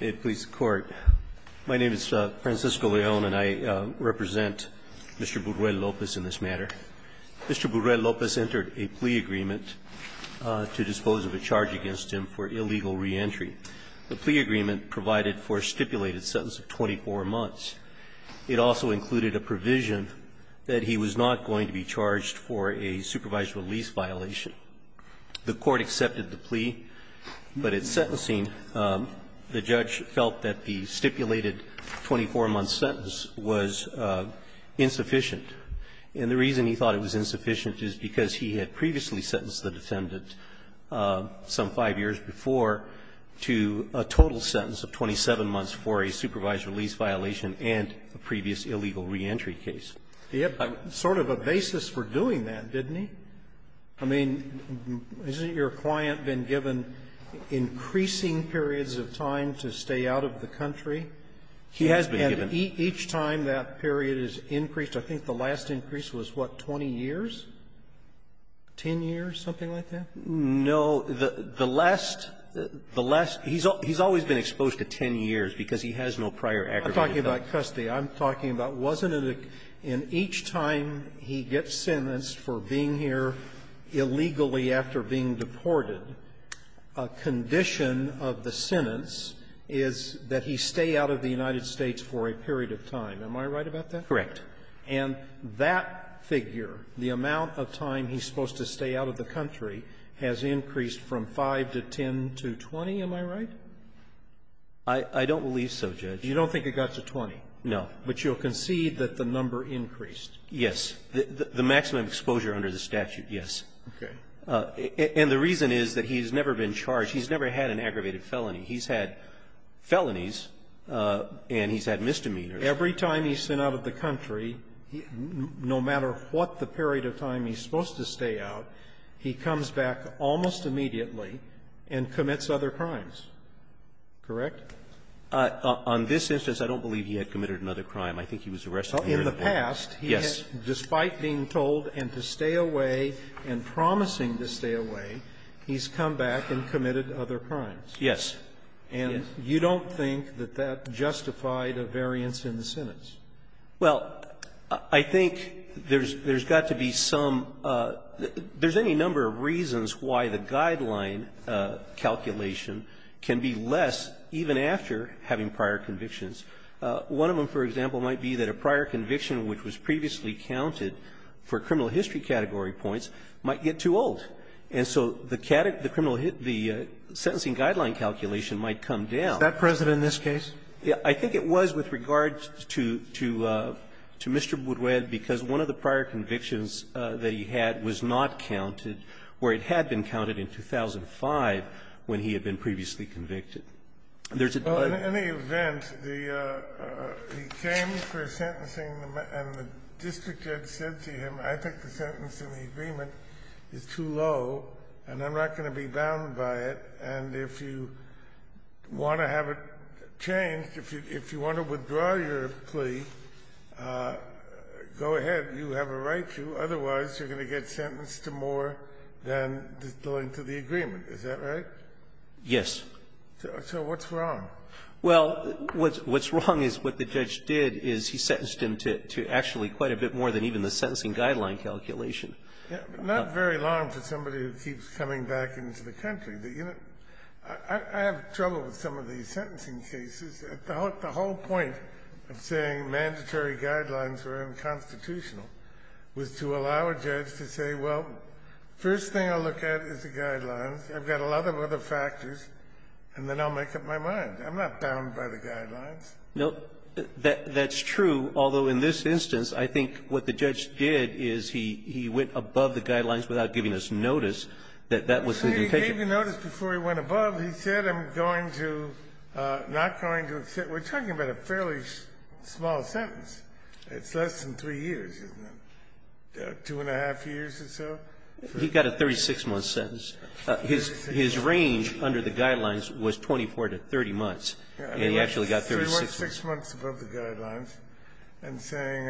May it please the Court. My name is Francisco León and I represent Mr. Burruel-Lopez in this matter. Mr. Burruel-Lopez entered a plea agreement to dispose of a charge against him for illegal reentry. The plea agreement provided for a stipulated sentence of 24 months. It also included a provision that he was not going to be charged for a supervised release violation. The Court accepted the plea, but at sentencing, the judge felt that the stipulated 24-month sentence was insufficient. And the reason he thought it was insufficient is because he had previously sentenced the defendant, some 5 years before, to a total sentence of 27 months for a supervised release violation and a previous illegal reentry case. Yep. I'm sort of a basis for doing that, didn't he? I mean, isn't your client been given increasing periods of time to stay out of the country? He has been given. And each time that period has increased, I think the last increase was, what, 20 years? 10 years, something like that? No. The last the last he's he's always been exposed to 10 years because he has no prior I'm talking about custody. I'm talking about, wasn't it in each time he gets sentenced for being here illegally after being deported, a condition of the sentence is that he stay out of the United States for a period of time. Am I right about that? Correct. And that figure, the amount of time he's supposed to stay out of the country, has increased from 5 to 10 to 20, am I right? I don't believe so, Judge. You don't think it got to 20? No. But you'll concede that the number increased? Yes. The maximum exposure under the statute, yes. Okay. And the reason is that he's never been charged. He's never had an aggravated felony. He's had felonies, and he's had misdemeanors. Every time he's sent out of the country, no matter what the period of time he's supposed to stay out, he comes back almost immediately and commits other crimes, correct? On this instance, I don't believe he had committed another crime. I think he was arrested earlier. In the past, he has, despite being told and to stay away and promising to stay away, he's come back and committed other crimes. Yes. And you don't think that that justified a variance in the sentence? Well, I think there's got to be some – there's any number of reasons why the guideline calculation can be less even after having prior convictions. One of them, for example, might be that a prior conviction which was previously counted for criminal history category points might get too old. And so the criminal – the sentencing guideline calculation might come down. Is that present in this case? I think it was with regard to Mr. Buduel, because one of the prior convictions that he had was not counted, or it had been counted in 2005 when he had been previously convicted. There's a – Well, in any event, the – he came for a sentencing, and the district judge said to him, I think the sentence in the agreement is too low, and I'm not going to be bound by it, and if you want to have it changed, if you want to withdraw your plea, go ahead. You have a right to. Otherwise, you're going to get sentenced to more than the length of the agreement. Is that right? Yes. So what's wrong? Well, what's wrong is what the judge did is he sentenced him to actually quite a bit more than even the sentencing guideline calculation. Not very long for somebody who keeps coming back into the country. I have trouble with some of these sentencing cases. The whole point of saying mandatory guidelines were unconstitutional was to allow a judge to say, well, first thing I'll look at is the guidelines. I've got a lot of other factors, and then I'll make up my mind. I'm not bound by the guidelines. No, that's true, although in this instance, I think what the judge did is he went above the guidelines without giving us notice that that was the intention. He didn't even notice before he went above. He said I'm going to not going to accept. We're talking about a fairly small sentence. It's less than three years, isn't it, two-and-a-half years or so? He got a 36-month sentence. His range under the guidelines was 24 to 30 months, and he actually got 36 months. Three months, six months above the guidelines, and saying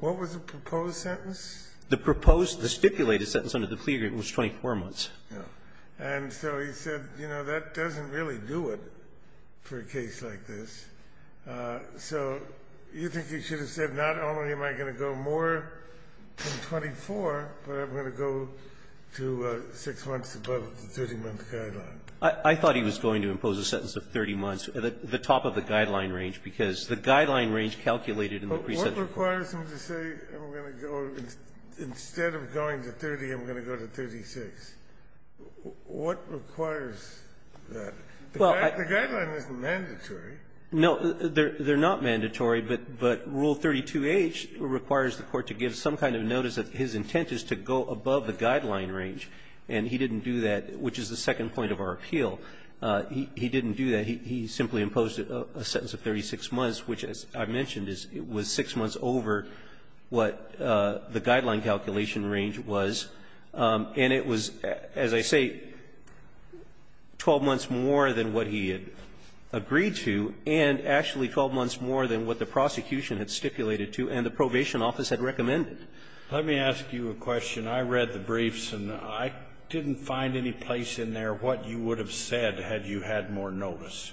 what was the proposed sentence? The proposed, the stipulated sentence under the plea agreement was 24 months. And so he said, you know, that doesn't really do it for a case like this. So you think he should have said not only am I going to go more than 24, but I'm going to go to six months above the 30-month guideline? I thought he was going to impose a sentence of 30 months, the top of the guideline range, because the guideline range calculated in the pre-sentence report. But what requires him to say I'm going to go, instead of going to 30, I'm going to go to 36? What requires that? The guideline isn't mandatory. No, they're not mandatory, but Rule 32H requires the Court to give some kind of notice that his intent is to go above the guideline range. And he didn't do that, which is the second point of our appeal. He didn't do that. He simply imposed a sentence of 36 months, which, as I mentioned, was six months over what the guideline calculation range was. And it was, as I say, 12 months more than what he had agreed to, and actually 12 months more than what the prosecution had stipulated to and the probation office had recommended. Let me ask you a question. I read the briefs, and I didn't find any place in there what you would have said had you had more notice.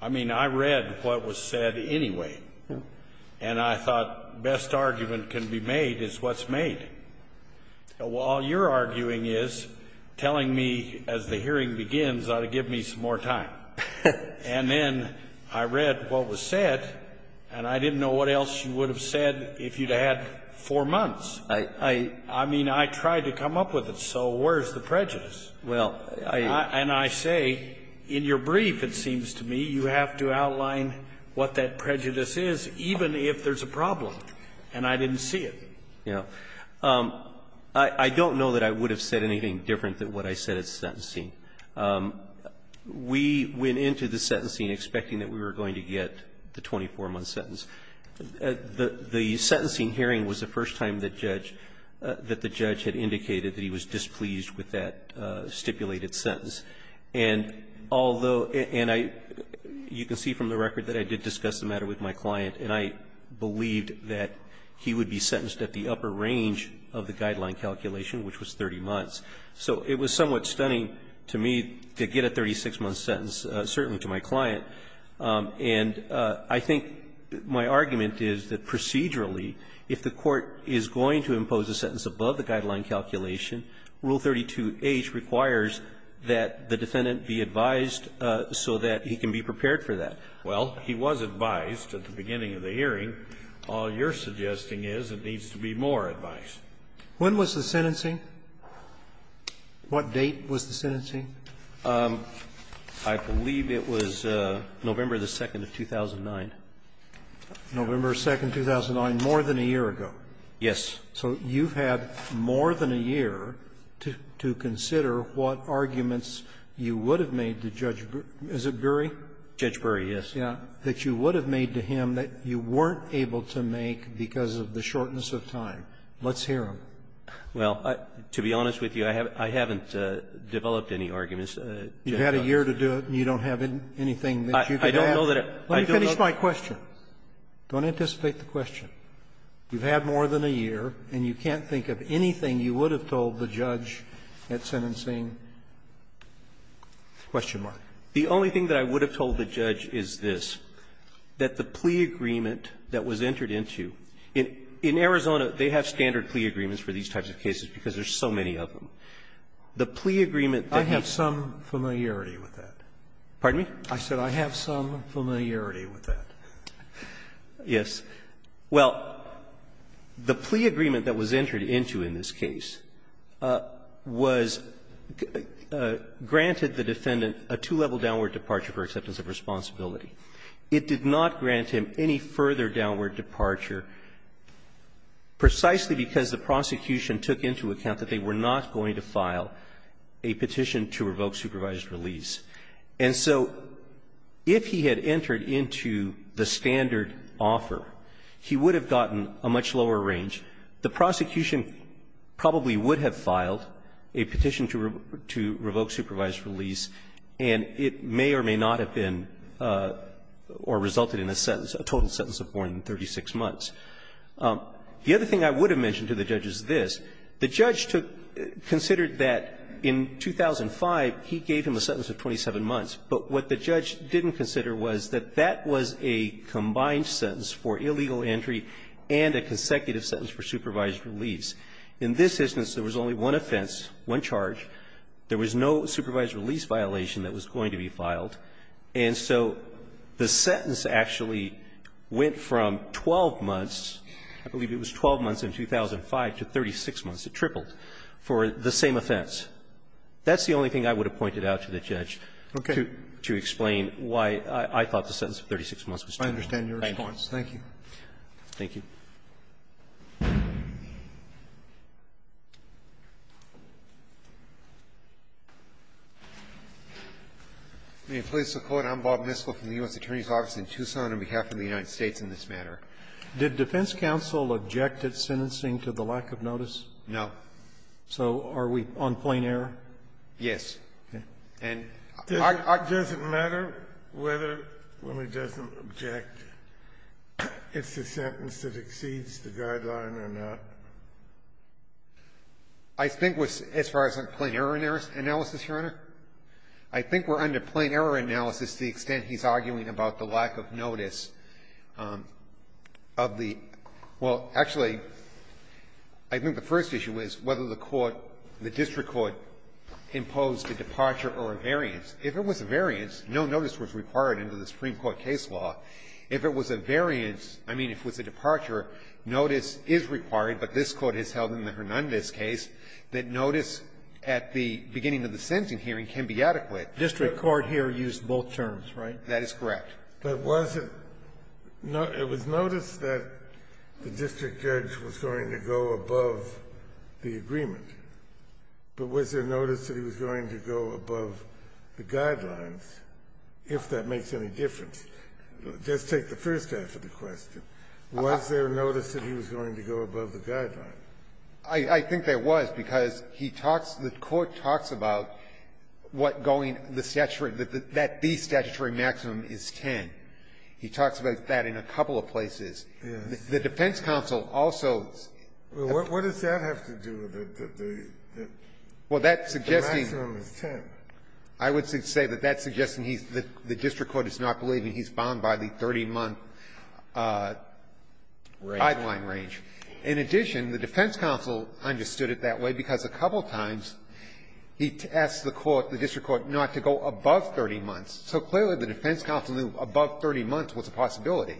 I mean, I read what was said anyway, and I thought best argument can be made is what's made. All you're arguing is telling me as the hearing begins ought to give me some more time. And then I read what was said, and I didn't know what else you would have said if you'd had four months. I mean, I tried to come up with it, so where's the prejudice? And I say, in your brief, it seems to me, you have to outline what that prejudice is, even if there's a problem, and I didn't see it. Yeah. I don't know that I would have said anything different than what I said at sentencing. We went into the sentencing expecting that we were going to get the 24-month sentence. The sentencing hearing was the first time that the judge had indicated that he was pleased with that stipulated sentence. And although you can see from the record that I did discuss the matter with my client, and I believed that he would be sentenced at the upper range of the guideline calculation, which was 30 months. So it was somewhat stunning to me to get a 36-month sentence, certainly to my client. And I think my argument is that procedurally, if the Court is going to impose a sentence above the guideline calculation, Rule 32H requires that the defendant be advised so that he can be prepared for that. Well, he was advised at the beginning of the hearing. All you're suggesting is it needs to be more advice. When was the sentencing? What date was the sentencing? I believe it was November 2, 2009. November 2, 2009, more than a year ago. Yes. So you've had more than a year to consider what arguments you would have made to Judge Berry. Is it Berry? Judge Berry, yes. Yes. That you would have made to him that you weren't able to make because of the shortness of time. Let's hear him. Well, to be honest with you, I haven't developed any arguments. You've had a year to do it, and you don't have anything that you could have? I don't know that I've done that. Let me finish my question. Don't anticipate the question. You've had more than a year, and you can't think of anything you would have told the judge at sentencing? The only thing that I would have told the judge is this, that the plea agreement that was entered into, in Arizona, they have standard plea agreements for these types of cases because there's so many of them. The plea agreement that has been entered into. I have some familiarity with that. Pardon me? I said I have some familiarity with that. Yes. Well, the plea agreement that was entered into in this case was granted the defendant a two-level downward departure for acceptance of responsibility. It did not grant him any further downward departure precisely because the prosecution took into account that they were not going to file a petition to revoke supervised release. And so if he had entered into the standard offer, he would have gotten a much lower range. The prosecution probably would have filed a petition to revoke supervised release, and it may or may not have been or resulted in a sentence, a total sentence of more than 36 months. The other thing I would have mentioned to the judge is this. The judge took the question, considered that in 2005, he gave him a sentence of 27 months. But what the judge didn't consider was that that was a combined sentence for illegal entry and a consecutive sentence for supervised release. In this instance, there was only one offense, one charge. There was no supervised release violation that was going to be filed. And so the sentence actually went from 12 months, I believe it was 12 months in 2005, to 36 months. It tripled for the same offense. That's the only thing I would have pointed out to the judge to explain why I thought the sentence of 36 months was tripled. Thank you. Roberts. Thank you. Thank you. I'm Bob Miskell from the U.S. Attorney's Office in Tucson on behalf of the United States in this matter. Did defense counsel object at sentencing to the lack of notice? No. So are we on plain error? Yes. Okay. And I don't think it's a sentence that exceeds the guideline or not. I think as far as plain error analysis, Your Honor, I think we're under plain error analysis the extent he's arguing about the lack of notice of the – well, actually, I think the first issue is whether the court, the district court, imposed a departure or a variance. If it was a variance, no notice was required under the Supreme Court case law. If it was a variance, I mean, if it was a departure, notice is required, but this Court has held in the Hernandez case that notice at the beginning of the sentencing hearing can be adequate. The district court here used both terms, right? That is correct. But was it – it was noticed that the district judge was going to go above the agreement. But was there notice that he was going to go above the guidelines, if that makes any difference? Just take the first half of the question. Was there notice that he was going to go above the guidelines? I think there was, because he talks – the court talks about what going – the statutory – that the statutory maximum is 10. He talks about that in a couple of places. The defense counsel also – Well, what does that have to do with it, that the maximum is 10? I would say that that's suggesting he's – the district court is not believing he's bound by the 30-month guideline range. In addition, the defense counsel understood it that way, because a couple of times he asked the court, the district court, not to go above 30 months. So clearly, the defense counsel knew above 30 months was a possibility.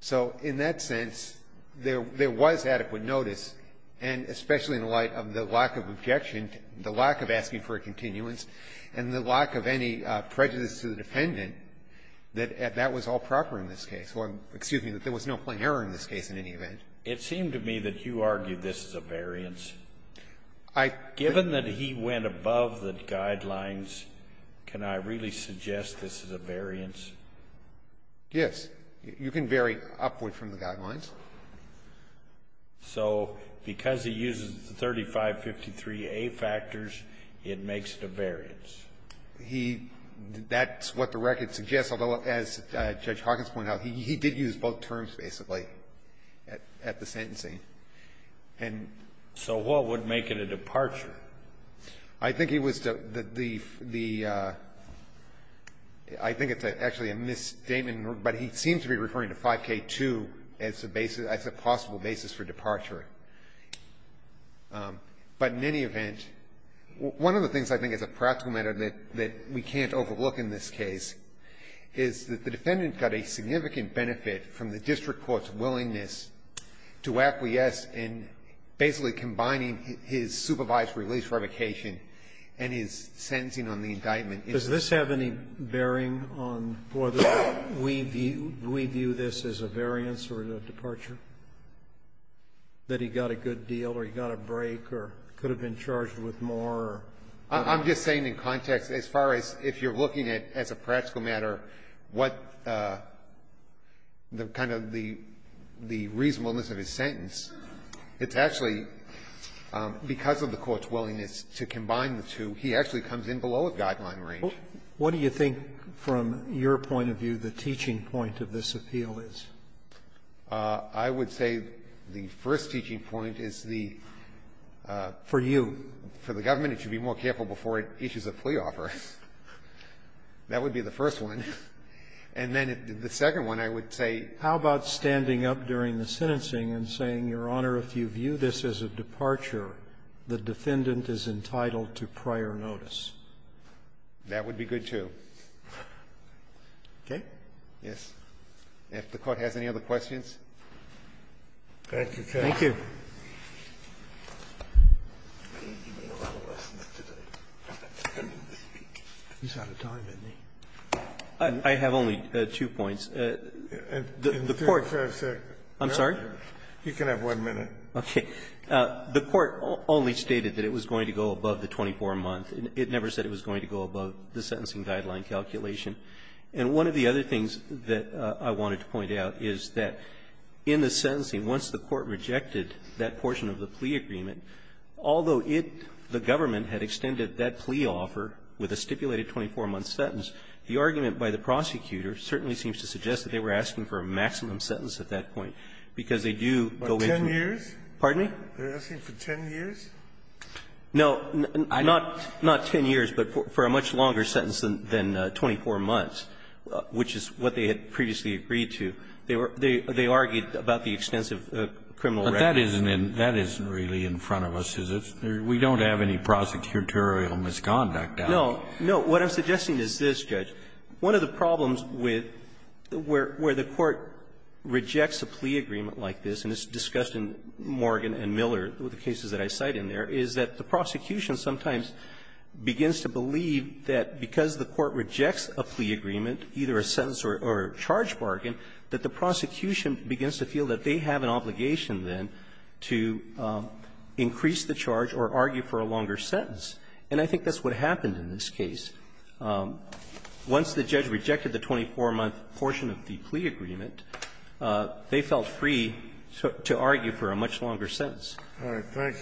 So in that sense, there was adequate notice, and especially in the light of the lack of objection, the lack of asking for a continuance, and the lack of any prejudice to the defendant, that that was all proper in this case. So I'm – excuse me, that there was no plain error in this case in any event. It seemed to me that you argued this is a variance. I – Given that he went above the guidelines, can I really suggest this is a variance? Yes. You can vary upward from the guidelines. So because he uses the 3553A factors, it makes it a variance? He – that's what the record suggests. Although, as Judge Hawkins pointed out, he did use both terms basically at the sentencing. And so what would make it a departure? I think it was the – I think it's actually a misstatement, but he seems to be referring to 5K2 as a possible basis for departure. But in any event, one of the things I think is a practical matter that we can't overlook in this case is that the defendant got a significant benefit from the district court's willingness to acquiesce in basically combining his supervised release revocation and his sentencing on the indictment. Does this have any bearing on whether we view this as a variance or a departure, that he got a good deal, or he got a break, or could have been charged with more? I'm just saying in context, as far as if you're looking at, as a practical matter, what the kind of the reasonableness of his sentence, it's actually because of the court's willingness to combine the two, he actually comes in below a guideline range. What do you think, from your point of view, the teaching point of this appeal is? I would say the first teaching point is the – For you. For the government, it should be more careful before it issues a plea offer. That would be the first one. And then the second one, I would say – How about standing up during the sentencing and saying, Your Honor, if you view this as a departure, the defendant is entitled to prior notice? That would be good, too. Okay? Yes. If the Court has any other questions. Thank you, Your Honor. Thank you. He's out of time, isn't he? I have only two points. The Court – I'm sorry? You can have one minute. Okay. The Court only stated that it was going to go above the 24-month. It never said it was going to go above the sentencing guideline calculation. And one of the other things that I wanted to point out is that in the sentencing, once the Court rejected that portion of the plea agreement, although it, the government, had extended that plea offer with a stipulated 24-month sentence, the argument by the prosecutor certainly seems to suggest that they were asking for a maximum sentence at that point, because they do go into – By 10 years? Pardon me? They're asking for 10 years? No, not 10 years, but for a much longer sentence than 24 months, which is what they had previously agreed to. They argued about the extensive criminal record. But that isn't really in front of us, is it? We don't have any prosecutorial misconduct out there. No. No. What I'm suggesting is this, Judge. One of the problems with – where the Court rejects a plea agreement like this, and it's discussed in Morgan and Miller, the cases that I cite in there, is that the prosecution sometimes begins to believe that because the Court rejects a plea agreement, a plea agreement, or a plea bargain, that the prosecution begins to feel that they have an obligation, then, to increase the charge or argue for a longer sentence. And I think that's what happened in this case. Once the judge rejected the 24-month portion of the plea agreement, they felt free to argue for a much longer sentence. All right.